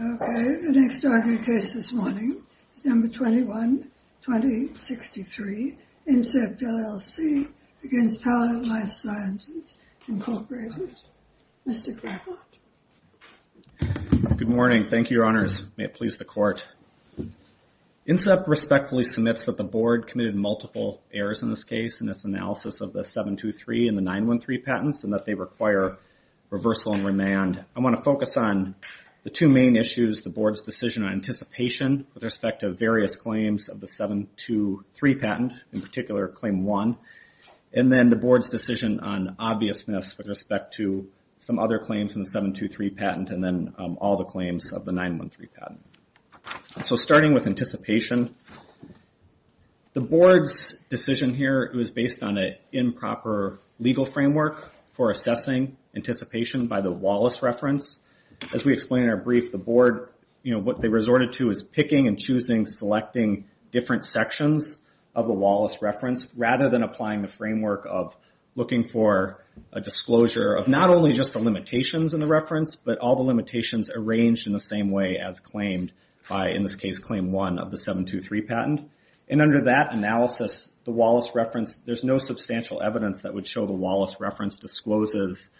Okay, the next argued case this morning, December 21, 2063, Incept LLC v. Palette Life Sciences, Incorporated. Mr. Greenblatt. Good morning. Thank you, Your Honors. May it please the Court. Incept respectfully submits that the Board committed multiple errors in this case in its analysis of the 723 and the 913 patents and that they require reversal and remand. I want to focus on the two main issues, the Board's decision on anticipation with respect to various claims of the 723 patent, in particular Claim 1, and then the Board's decision on obviousness with respect to some other claims in the 723 patent and then all the claims of the 913 patent. So starting with anticipation, the Board's decision here was based on an improper legal framework for assessing anticipation by the Wallace reference. As we explained in our brief, the Board, you know, what they resorted to is picking and choosing, selecting different sections of the Wallace reference, rather than applying the framework of looking for a disclosure of not only just the limitations in the reference, but all the limitations arranged in the same way as claimed by, in this case, Claim 1 of the 723 patent. And under that analysis, the Wallace reference, there's no substantial evidence that would show the Wallace reference discloses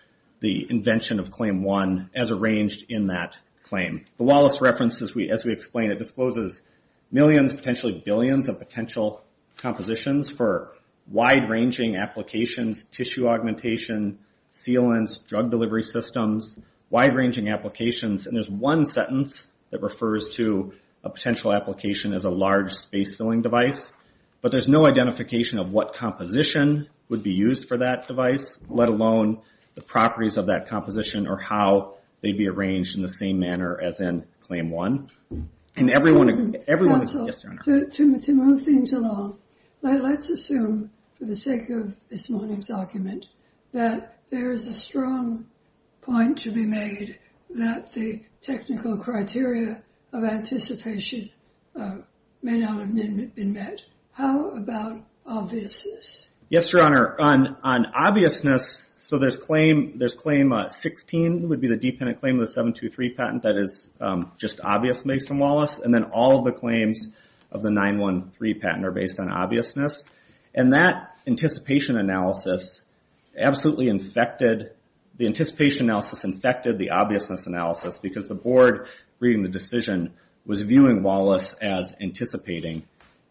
the invention of Claim 1 as arranged in that claim. The Wallace reference, as we explained, it discloses millions, potentially billions of potential compositions for wide-ranging applications, tissue augmentation, sealants, drug delivery systems, wide-ranging applications. And there's one sentence that refers to a potential application as a large space-filling device, but there's no identification of what composition would be used for that device, let alone the properties of that composition or how they'd be arranged in the same manner as in Claim 1. And everyone... Counsel, to move things along, let's assume, for the sake of this morning's argument, that there is a strong point to be made that the technical criteria of anticipation may not have been met. How about obviousness? Yes, Your Honor. On obviousness, so there's Claim 16, would be the dependent claim of the 723 patent that is just obvious based on Wallace, and then all of the claims of the 913 patent are based on obviousness. And that anticipation analysis absolutely infected... The anticipation analysis infected the obviousness analysis because the board reading the decision was viewing Wallace as anticipating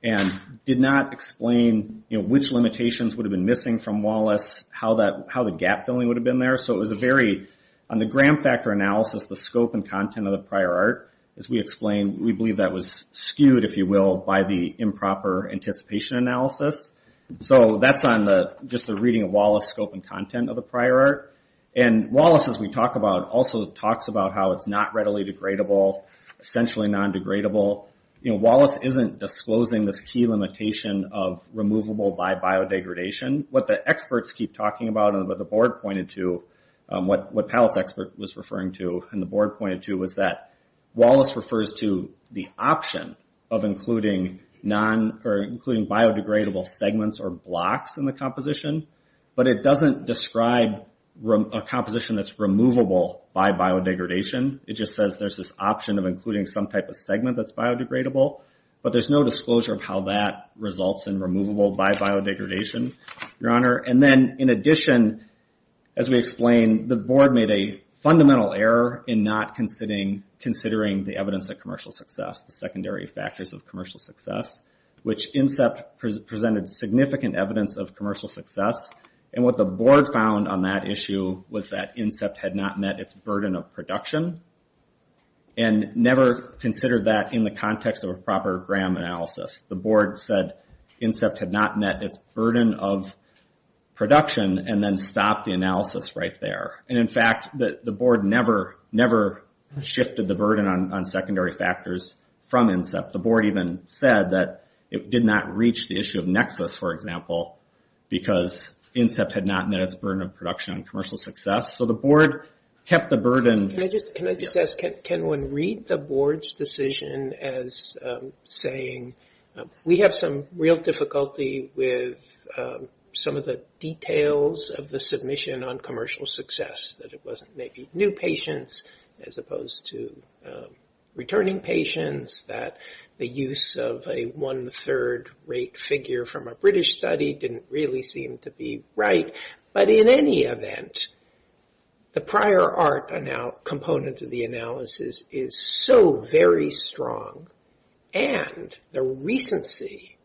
and did not explain which limitations would have been missing from Wallace, how the gap filling would have been there. So it was a very... On the gram factor analysis, the scope and content of the prior art, as we explained, we believe that was skewed, if you will, by the improper anticipation analysis. So that's on just the reading of Wallace's scope and content of the prior art. And Wallace, as we talk about, also talks about how it's not readily degradable, essentially non-degradable. Wallace isn't disclosing this key limitation of removable by biodegradation. What the experts keep talking about and what the board pointed to, what Pallett's expert was referring to and the board pointed to, was that Wallace refers to the option of including biodegradable segments or blocks in the composition, but it doesn't describe a composition that's removable by biodegradation. It just says there's this option of including some type of segment that's biodegradable, but there's no disclosure of how that results in removable by biodegradation, Your Honor. And then, in addition, as we explained, the board made a fundamental error in not considering the evidence of commercial success, the secondary factors of commercial success, which INSEPT presented significant evidence of commercial success. And what the board found on that issue was that INSEPT had not met its burden of production and never considered that in the context of a proper gram analysis. The board said INSEPT had not met its burden of production and then stopped the analysis right there. And, in fact, the board never shifted the burden on secondary factors from INSEPT. The board even said that it did not reach the issue of nexus, for example, because INSEPT had not met its burden of production on commercial success. So the board kept the burden. Can I just ask, can one read the board's decision as saying, we have some real difficulty with some of the details of the submission on commercial success, that it wasn't maybe new patients as opposed to returning patients, that the use of a one-third rate figure from a British study didn't really seem to be right. But, in any event, the prior art component of the analysis is so very strong, and the recency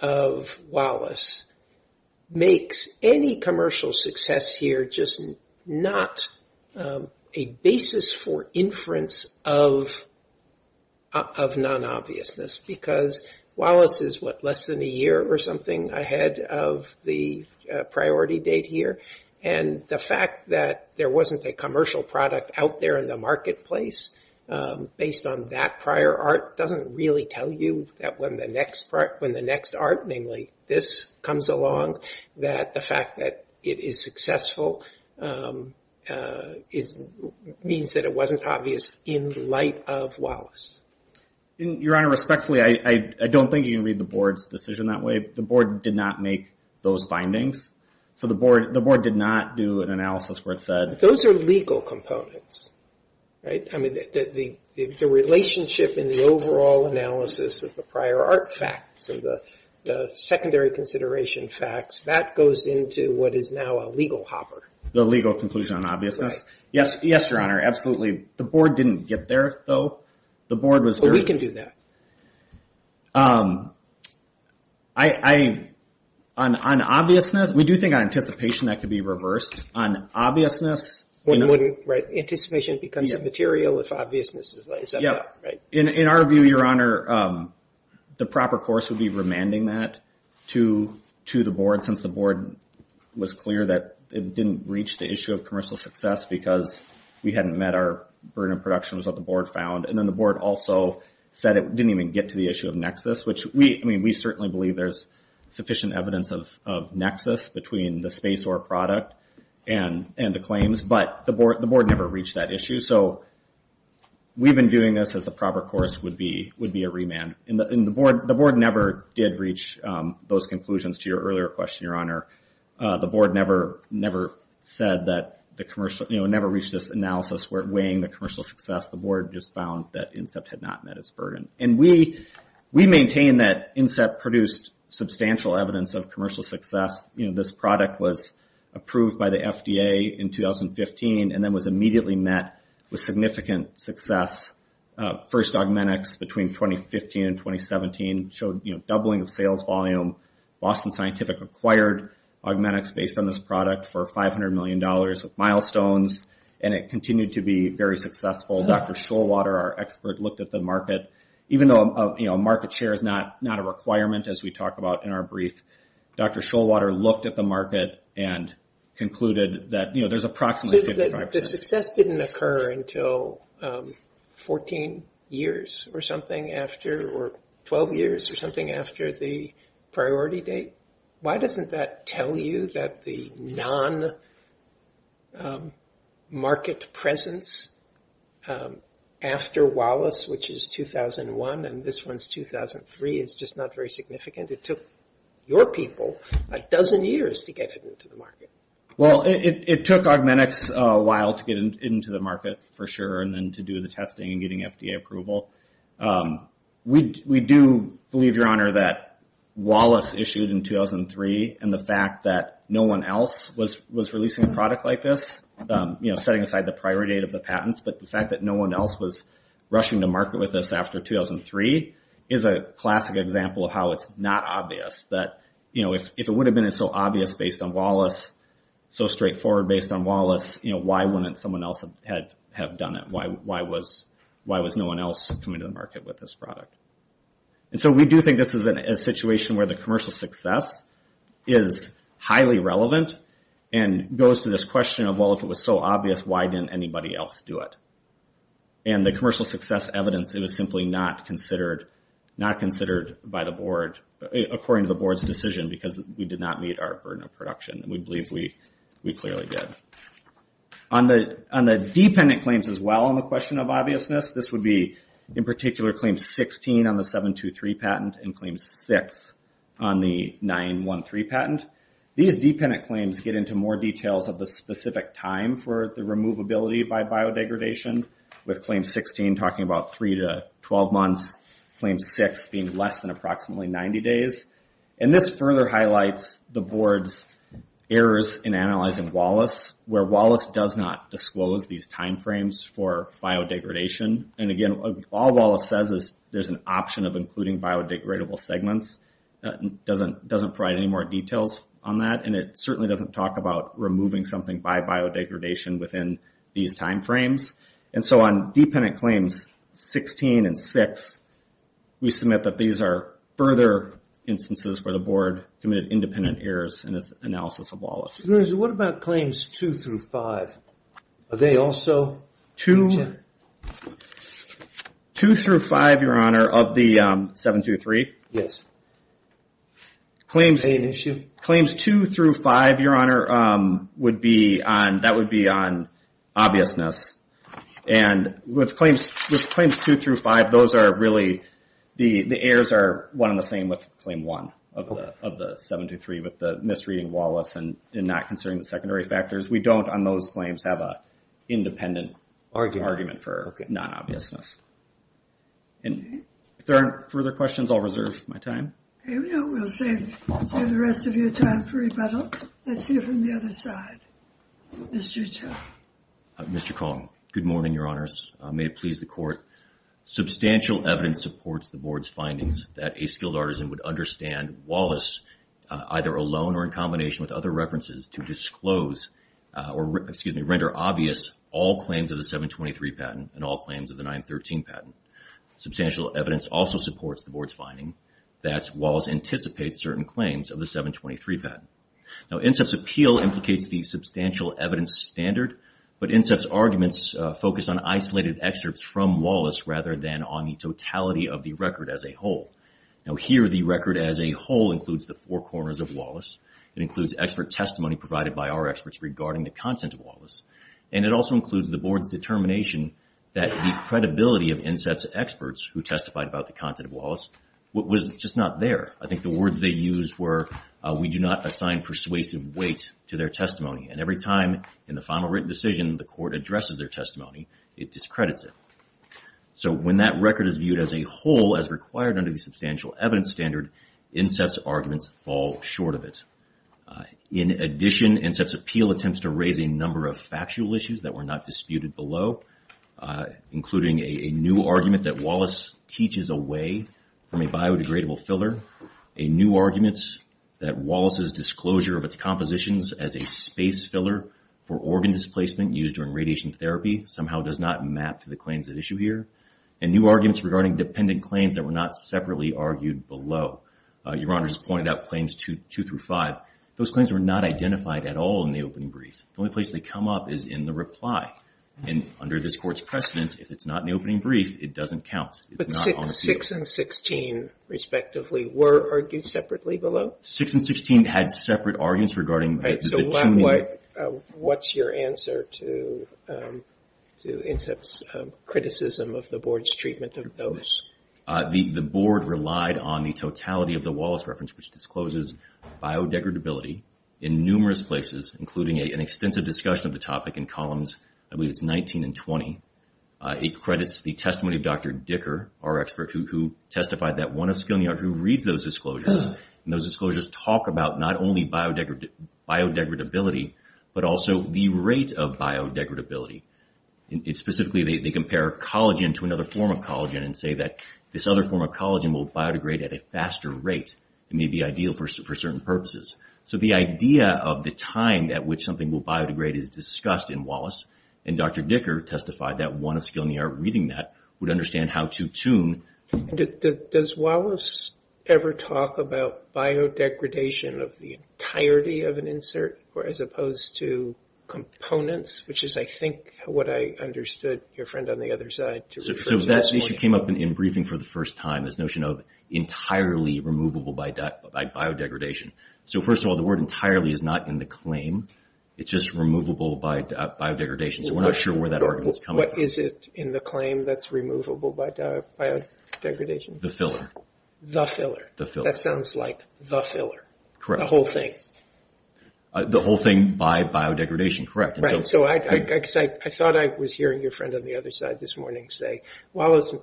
of Wallace makes any commercial success here just not a basis for inference of non-obviousness, because Wallace is, what, less than a year or something ahead of the priority date here? And the fact that there wasn't a commercial product out there in the marketplace based on that prior art doesn't really tell you that when the next art, namely this, comes along, that the fact that it is successful means that it wasn't obvious in light of Wallace. Your Honor, respectfully, I don't think you can read the board's decision that way. The board did not make those findings. So the board did not do an analysis where it said those are legal components, right? I mean, the relationship in the overall analysis of the prior art facts and the secondary consideration facts, that goes into what is now a legal hopper. The legal conclusion on obviousness? Yes, Your Honor, absolutely. The board didn't get there, though. But we can do that. On obviousness, we do think on anticipation that could be reversed. On obviousness? Right, anticipation becomes immaterial if obviousness is left out, right? In our view, Your Honor, the proper course would be remanding that to the board since the board was clear that it didn't reach the issue of commercial success because we hadn't met our burden of production was what the board found. And then the board also said it didn't even get to the issue of nexus, which we certainly believe there's sufficient evidence of nexus between the space or product and the claims, but the board never reached that issue. So we've been doing this as the proper course would be a remand. And the board never did reach those conclusions to your earlier question, Your Honor. The board never said that the commercial, you know, never reached this analysis where weighing the commercial success, the board just found that INSEPT had not met its burden. And we maintain that INSEPT produced substantial evidence of commercial success. You know, this product was approved by the FDA in 2015 and then was immediately met with significant success. First Augmentix between 2015 and 2017 showed, you know, doubling of sales volume. Boston Scientific acquired Augmentix based on this product for $500 million with milestones, and it continued to be very successful. Dr. Shoalwater, our expert, looked at the market. Even though, you know, market share is not a requirement as we talk about in our brief, Dr. Shoalwater looked at the market and concluded that, you know, there's approximately 55% The success didn't occur until 14 years or something after or 12 years or something after the priority date. Why doesn't that tell you that the non-market presence after Wallace, which is 2001, and this one's 2003, is just not very significant? It took your people a dozen years to get it into the market. Well, it took Augmentix a while to get it into the market for sure and then to do the testing and getting FDA approval. We do believe, Your Honor, that Wallace issued in 2003 and the fact that no one else was releasing a product like this, you know, setting aside the priority date of the patents, but the fact that no one else was rushing to market with this after 2003 is a classic example of how it's not obvious that, you know, if it would have been so obvious based on Wallace, so straightforward based on Wallace, you know, why wouldn't someone else have done it? Why was no one else coming to the market with this product? And so we do think this is a situation where the commercial success is highly relevant and goes to this question of, well, if it was so obvious, why didn't anybody else do it? And the commercial success evidence, it was simply not considered by the board, according to the board's decision, because we did not meet our burden of production. We believe we clearly did. On the dependent claims as well, on the question of obviousness, this would be in particular Claim 16 on the 723 patent and Claim 6 on the 913 patent. These dependent claims get into more details of the specific time for the removability by biodegradation, with Claim 16 talking about 3 to 12 months, Claim 6 being less than approximately 90 days. And this further highlights the board's errors in analyzing Wallace, where Wallace does not disclose these time frames for biodegradation. And again, all Wallace says is there's an option of including biodegradable segments. It doesn't provide any more details on that, and it certainly doesn't talk about removing something by biodegradation within these time frames. And so on Dependent Claims 16 and 6, we submit that these are further instances where the board committed independent errors in its analysis of Wallace. What about Claims 2 through 5? Are they also? 2 through 5, Your Honor, of the 723? Yes. Claims 2 through 5, Your Honor, that would be on obviousness. And with Claims 2 through 5, those are really, the errors are one and the same with Claim 1 of the 723, with the misreading Wallace and not considering the secondary factors. We don't, on those claims, have an independent argument for non-obviousness. And if there aren't further questions, I'll reserve my time. Okay, we'll save the rest of your time for rebuttal. Let's hear from the other side. Mr. Chau. Mr. Kong, good morning, Your Honors. May it please the Court. Substantial evidence supports the board's findings that a skilled artisan would understand Wallace, either alone or in combination with other references, to disclose or, excuse me, render obvious all claims of the 723 patent and all claims of the 913 patent. Substantial evidence also supports the board's finding that Wallace anticipates certain claims of the 723 patent. Now, INSEPT's appeal implicates the substantial evidence standard, but INSEPT's arguments focus on isolated excerpts from Wallace rather than on the totality of the record as a whole. Now, here, the record as a whole includes the four corners of Wallace. It includes expert testimony provided by our experts regarding the content of Wallace. And it also includes the board's determination that the credibility of INSEPT's experts, who testified about the content of Wallace, was just not there. I think the words they used were, we do not assign persuasive weight to their testimony. And every time, in the final written decision, the court addresses their testimony, it discredits it. So when that record is viewed as a whole, as required under the substantial evidence standard, INSEPT's arguments fall short of it. In addition, INSEPT's appeal attempts to raise a number of factual issues that were not disputed below, including a new argument that Wallace teaches away from a biodegradable filler, a new argument that Wallace's disclosure of its compositions as a space filler for organ displacement used during radiation therapy, somehow does not map to the claims at issue here, and new arguments regarding dependent claims that were not separately argued below. Your Honor just pointed out claims two through five. Those claims were not identified at all in the opening brief. The only place they come up is in the reply. And under this Court's precedent, if it's not in the opening brief, it doesn't count. It's not on the field. But six and 16, respectively, were argued separately below? Six and 16 had separate arguments regarding... Right. So what's your answer to INSEPT's criticism of the Board's treatment of those? The Board relied on the totality of the Wallace reference, which discloses biodegradability in numerous places, including an extensive discussion of the topic in columns, I believe it's 19 and 20. It credits the testimony of Dr. Dicker, our expert, who testified that one of Skilnier, who reads those disclosures, and those disclosures talk about not only biodegradability but also the rate of biodegradability. Specifically, they compare collagen to another form of collagen and say that this other form of collagen will biodegrade at a faster rate. It may be ideal for certain purposes. So the idea of the time at which something will biodegrade is discussed in Wallace, and Dr. Dicker testified that one of Skilnier reading that would understand how to tune... Does Wallace ever talk about biodegradation of the entirety of an insert as opposed to components, which is, I think, what I understood your friend on the other side to refer to? That issue came up in briefing for the first time, this notion of entirely removable by biodegradation. So first of all, the word entirely is not in the claim. It's just removable by biodegradation, so we're not sure where that argument is coming from. What is it in the claim that's removable by biodegradation? The filler. The filler. The filler. That sounds like the filler. Correct. The whole thing. The whole thing by biodegradation, correct. I thought I was hearing your friend on the other side this morning say, Wallace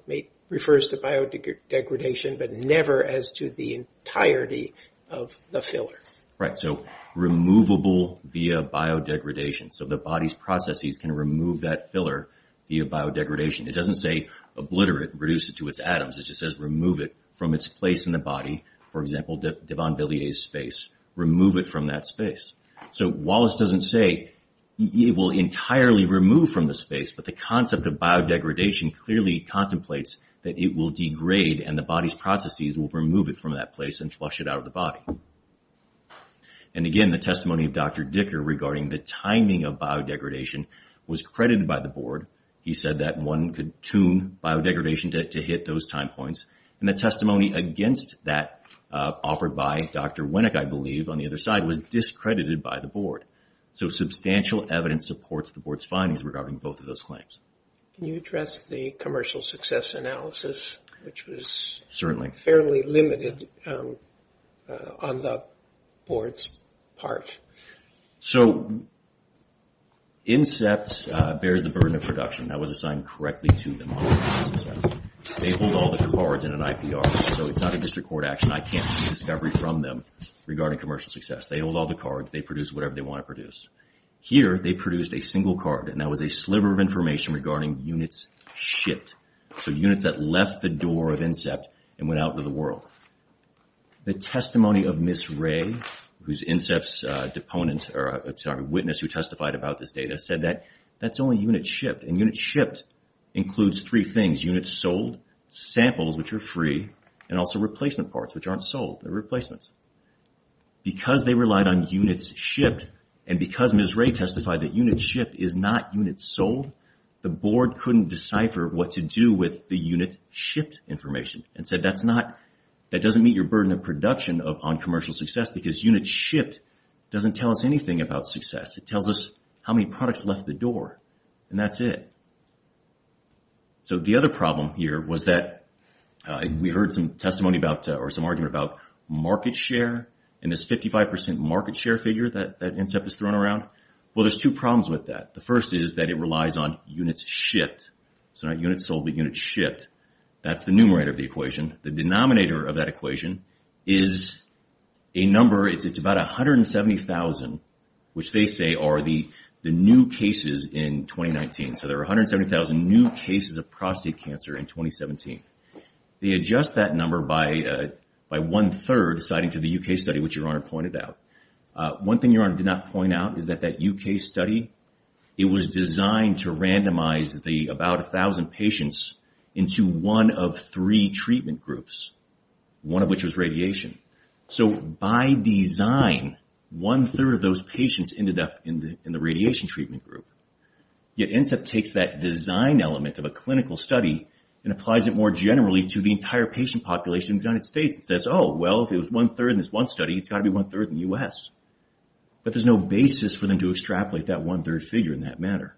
refers to biodegradation, but never as to the entirety of the filler. Right. So removable via biodegradation. So the body's processes can remove that filler via biodegradation. It doesn't say obliterate, reduce it to its atoms. It just says remove it from its place in the body. For example, Devon Villiers' space. Remove it from that space. So Wallace doesn't say it will entirely remove from the space, but the concept of biodegradation clearly contemplates that it will degrade and the body's processes will remove it from that place and flush it out of the body. And again, the testimony of Dr. Dicker regarding the timing of biodegradation was credited by the board. He said that one could tune biodegradation to hit those time points. And the testimony against that offered by Dr. Winnick, I believe, on the other side, was discredited by the board. So substantial evidence supports the board's findings regarding both of those claims. Can you address the commercial success analysis, which was fairly limited on the board's part? So Incept bears the burden of production. That was assigned correctly to them. They hold all the cards in an IPR. So it's not a district court action. I can't see discovery from them regarding commercial success. They hold all the cards. They produce whatever they want to produce. Here they produced a single card, and that was a sliver of information regarding units shipped, so units that left the door of Incept and went out into the world. The testimony of Ms. Ray, who's Incept's witness who testified about this data, said that that's only units shipped. And units shipped includes three things, units sold, samples, which are free, and also replacement parts, which aren't sold. They're replacements. Because they relied on units shipped and because Ms. Ray testified that units shipped is not units sold, the board couldn't decipher what to do with the unit shipped information and said that doesn't meet your burden of production on commercial success because units shipped doesn't tell us anything about success. It tells us how many products left the door, and that's it. So the other problem here was that we heard some testimony about or some argument about market share and this 55% market share figure that Incept has thrown around. Well, there's two problems with that. The first is that it relies on units shipped. It's not units sold, but units shipped. That's the numerator of the equation. The denominator of that equation is a number. It's about 170,000, which they say are the new cases in 2019. So there are 170,000 new cases of prostate cancer in 2017. They adjust that number by one-third, citing to the U.K. study, which Your Honor pointed out. One thing Your Honor did not point out is that that U.K. study, it was designed to randomize the about 1,000 patients into one of three treatment groups, one of which was radiation. So by design, one-third of those patients ended up in the radiation treatment group. Yet Incept takes that design element of a clinical study and applies it more generally to the entire patient population in the United States. It says, oh, well, if it was one-third in this one study, it's got to be one-third in the U.S. But there's no basis for them to extrapolate that one-third figure in that matter.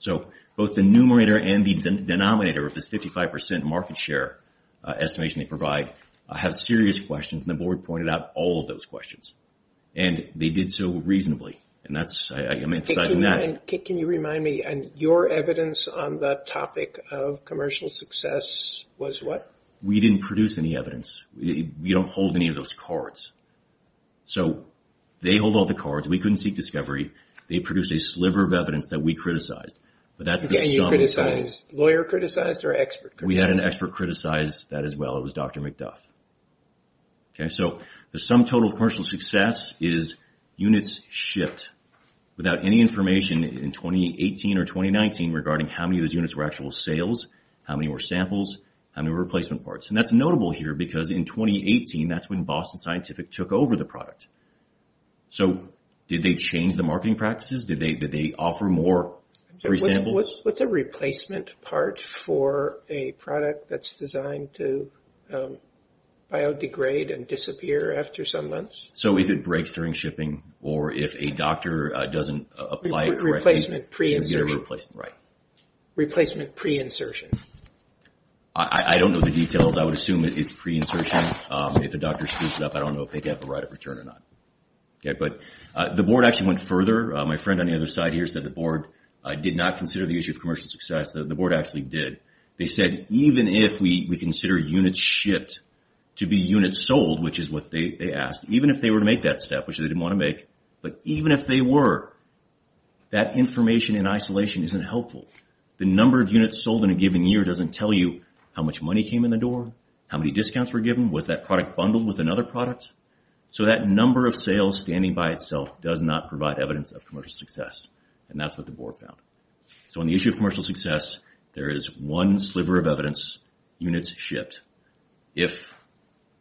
So both the numerator and the denominator of this 55% market share estimation they provide have serious questions, and the board pointed out all of those questions. And they did so reasonably. Can you remind me, your evidence on the topic of commercial success was what? We didn't produce any evidence. We don't hold any of those cards. So they hold all the cards. We couldn't seek discovery. They produced a sliver of evidence that we criticized. And you criticized, lawyer criticized or expert criticized? We had an expert criticize that as well. It was Dr. McDuff. So the sum total of commercial success is units shipped without any information in 2018 or 2019 regarding how many of those units were actual sales, how many were samples, how many were replacement parts. And that's notable here because in 2018, that's when Boston Scientific took over the product. So did they change the marketing practices? Did they offer more free samples? What's a replacement part for a product that's designed to biodegrade and disappear after some months? So if it breaks during shipping or if a doctor doesn't apply it correctly. Replacement pre-insertion. Replacement pre-insertion. I don't know the details. I would assume it's pre-insertion. If a doctor screws it up, I don't know if they'd have a right of return or not. But the board actually went further. My friend on the other side here said the board did not consider the issue of commercial success. The board actually did. They said even if we consider units shipped to be units sold, which is what they asked, even if they were to make that step, which they didn't want to make, but even if they were, that information in isolation isn't helpful. The number of units sold in a given year doesn't tell you how much money came in the door, how many discounts were given, was that product bundled with another product. So that number of sales standing by itself does not provide evidence of commercial success, and that's what the board found. So on the issue of commercial success, there is one sliver of evidence, units shipped. If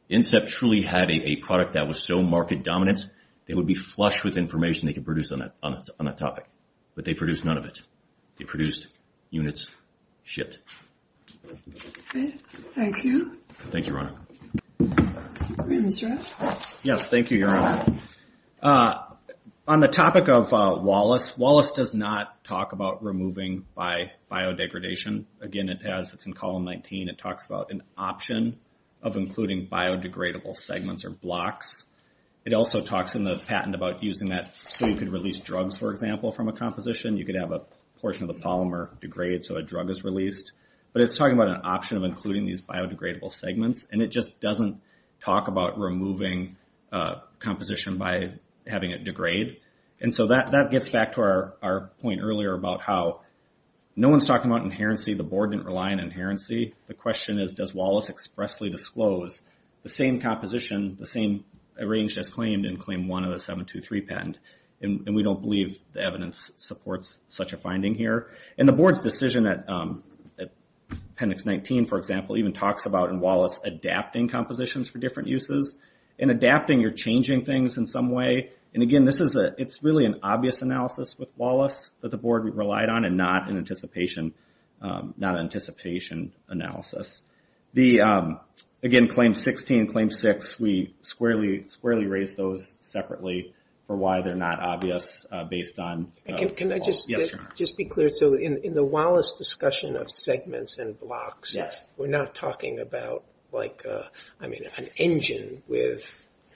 INSEP truly had a product that was so market dominant, they would be flush with information they could produce on that topic. But they produced none of it. They produced units shipped. Thank you. Thank you, Ronna. Mr. Rafferty? Yes, thank you, Your Honor. On the topic of Wallace, Wallace does not talk about removing by biodegradation. Again, it's in Column 19. It talks about an option of including biodegradable segments or blocks. It also talks in the patent about using that so you could release drugs, for example, from a composition. You could have a portion of the polymer degrade so a drug is released. But it's talking about an option of including these biodegradable segments, and it just doesn't talk about removing a composition by having it degrade. And so that gets back to our point earlier about how no one's talking about inherency. The board didn't rely on inherency. The question is, does Wallace expressly disclose the same composition, the same range as claimed in Claim 1 of the 723 patent? And we don't believe the evidence supports such a finding here. And the board's decision at Appendix 19, for example, even talks about in Wallace adapting compositions for different uses. In adapting, you're changing things in some way. And, again, it's really an obvious analysis with Wallace that the board relied on and not an anticipation analysis. Again, Claim 16 and Claim 6, we squarely raise those separately for why they're not obvious based on the law. Can I just be clear? So in the Wallace discussion of segments and blocks, we're not talking about, like, I mean, an engine with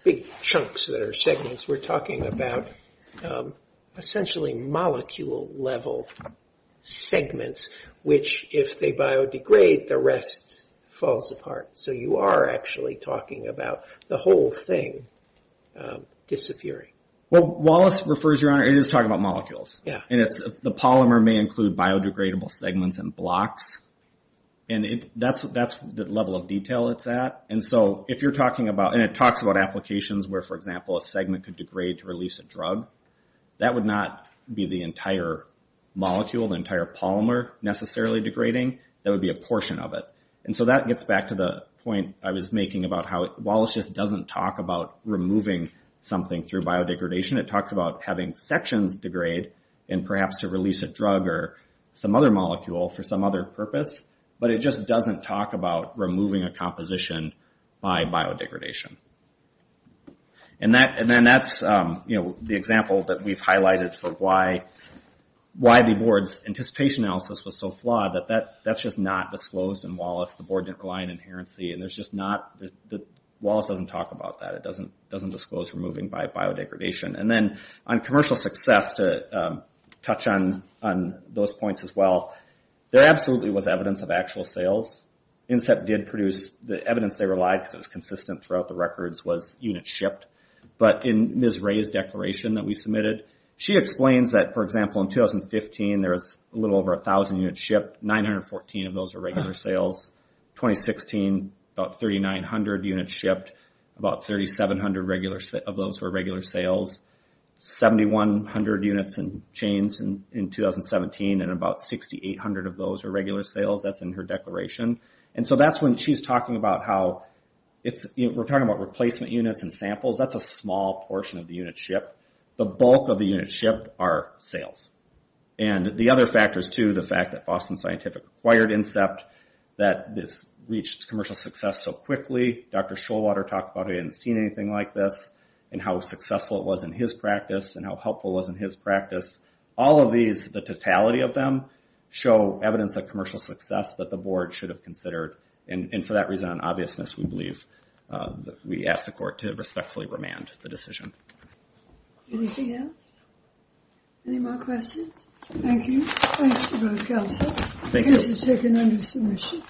big chunks that are segments. We're talking about essentially molecule-level segments, which if they biodegrade, the rest falls apart. So you are actually talking about the whole thing disappearing. Well, Wallace refers, Your Honor, it is talking about molecules. And the polymer may include biodegradable segments and blocks, and that's the level of detail it's at. And so if you're talking about, and it talks about applications where, for example, a segment could degrade to release a drug, that would not be the entire molecule, the entire polymer necessarily degrading. That would be a portion of it. And so that gets back to the point I was making about how Wallace just doesn't talk about removing something through biodegradation. It talks about having sections degrade and perhaps to release a drug or some other molecule for some other purpose, but it just doesn't talk about removing a composition by biodegradation. And then that's the example that we've highlighted for why the Board's anticipation analysis was so flawed, that that's just not disclosed in Wallace. The Board didn't rely on inherency. Wallace doesn't talk about that. It doesn't disclose removing by biodegradation. And then on commercial success, to touch on those points as well, there absolutely was evidence of actual sales. INSEPT did produce the evidence they relied because it was consistent throughout the records, was units shipped. But in Ms. Ray's declaration that we submitted, she explains that, for example, in 2015 there was a little over 1,000 units shipped. 914 of those were regular sales. In 2016, about 3,900 units shipped. About 3,700 of those were regular sales. 7,100 units and chains in 2017, and about 6,800 of those were regular sales. That's in her declaration. And so that's when she's talking about how it's, we're talking about replacement units and samples. That's a small portion of the units shipped. The bulk of the units shipped are sales. And the other factor is, too, the fact that Boston Scientific acquired INSEPT, that this reached commercial success so quickly. Dr. Shoalwater talked about how he hadn't seen anything like this and how successful it was in his practice and how helpful it was in his practice. All of these, the totality of them, show evidence of commercial success that the board should have considered. And for that reason and obviousness, we believe, we ask the court to respectfully remand the decision. Anything else? Any more questions? Thank you. Thanks to both counsel. Thank you. This is taken under submission.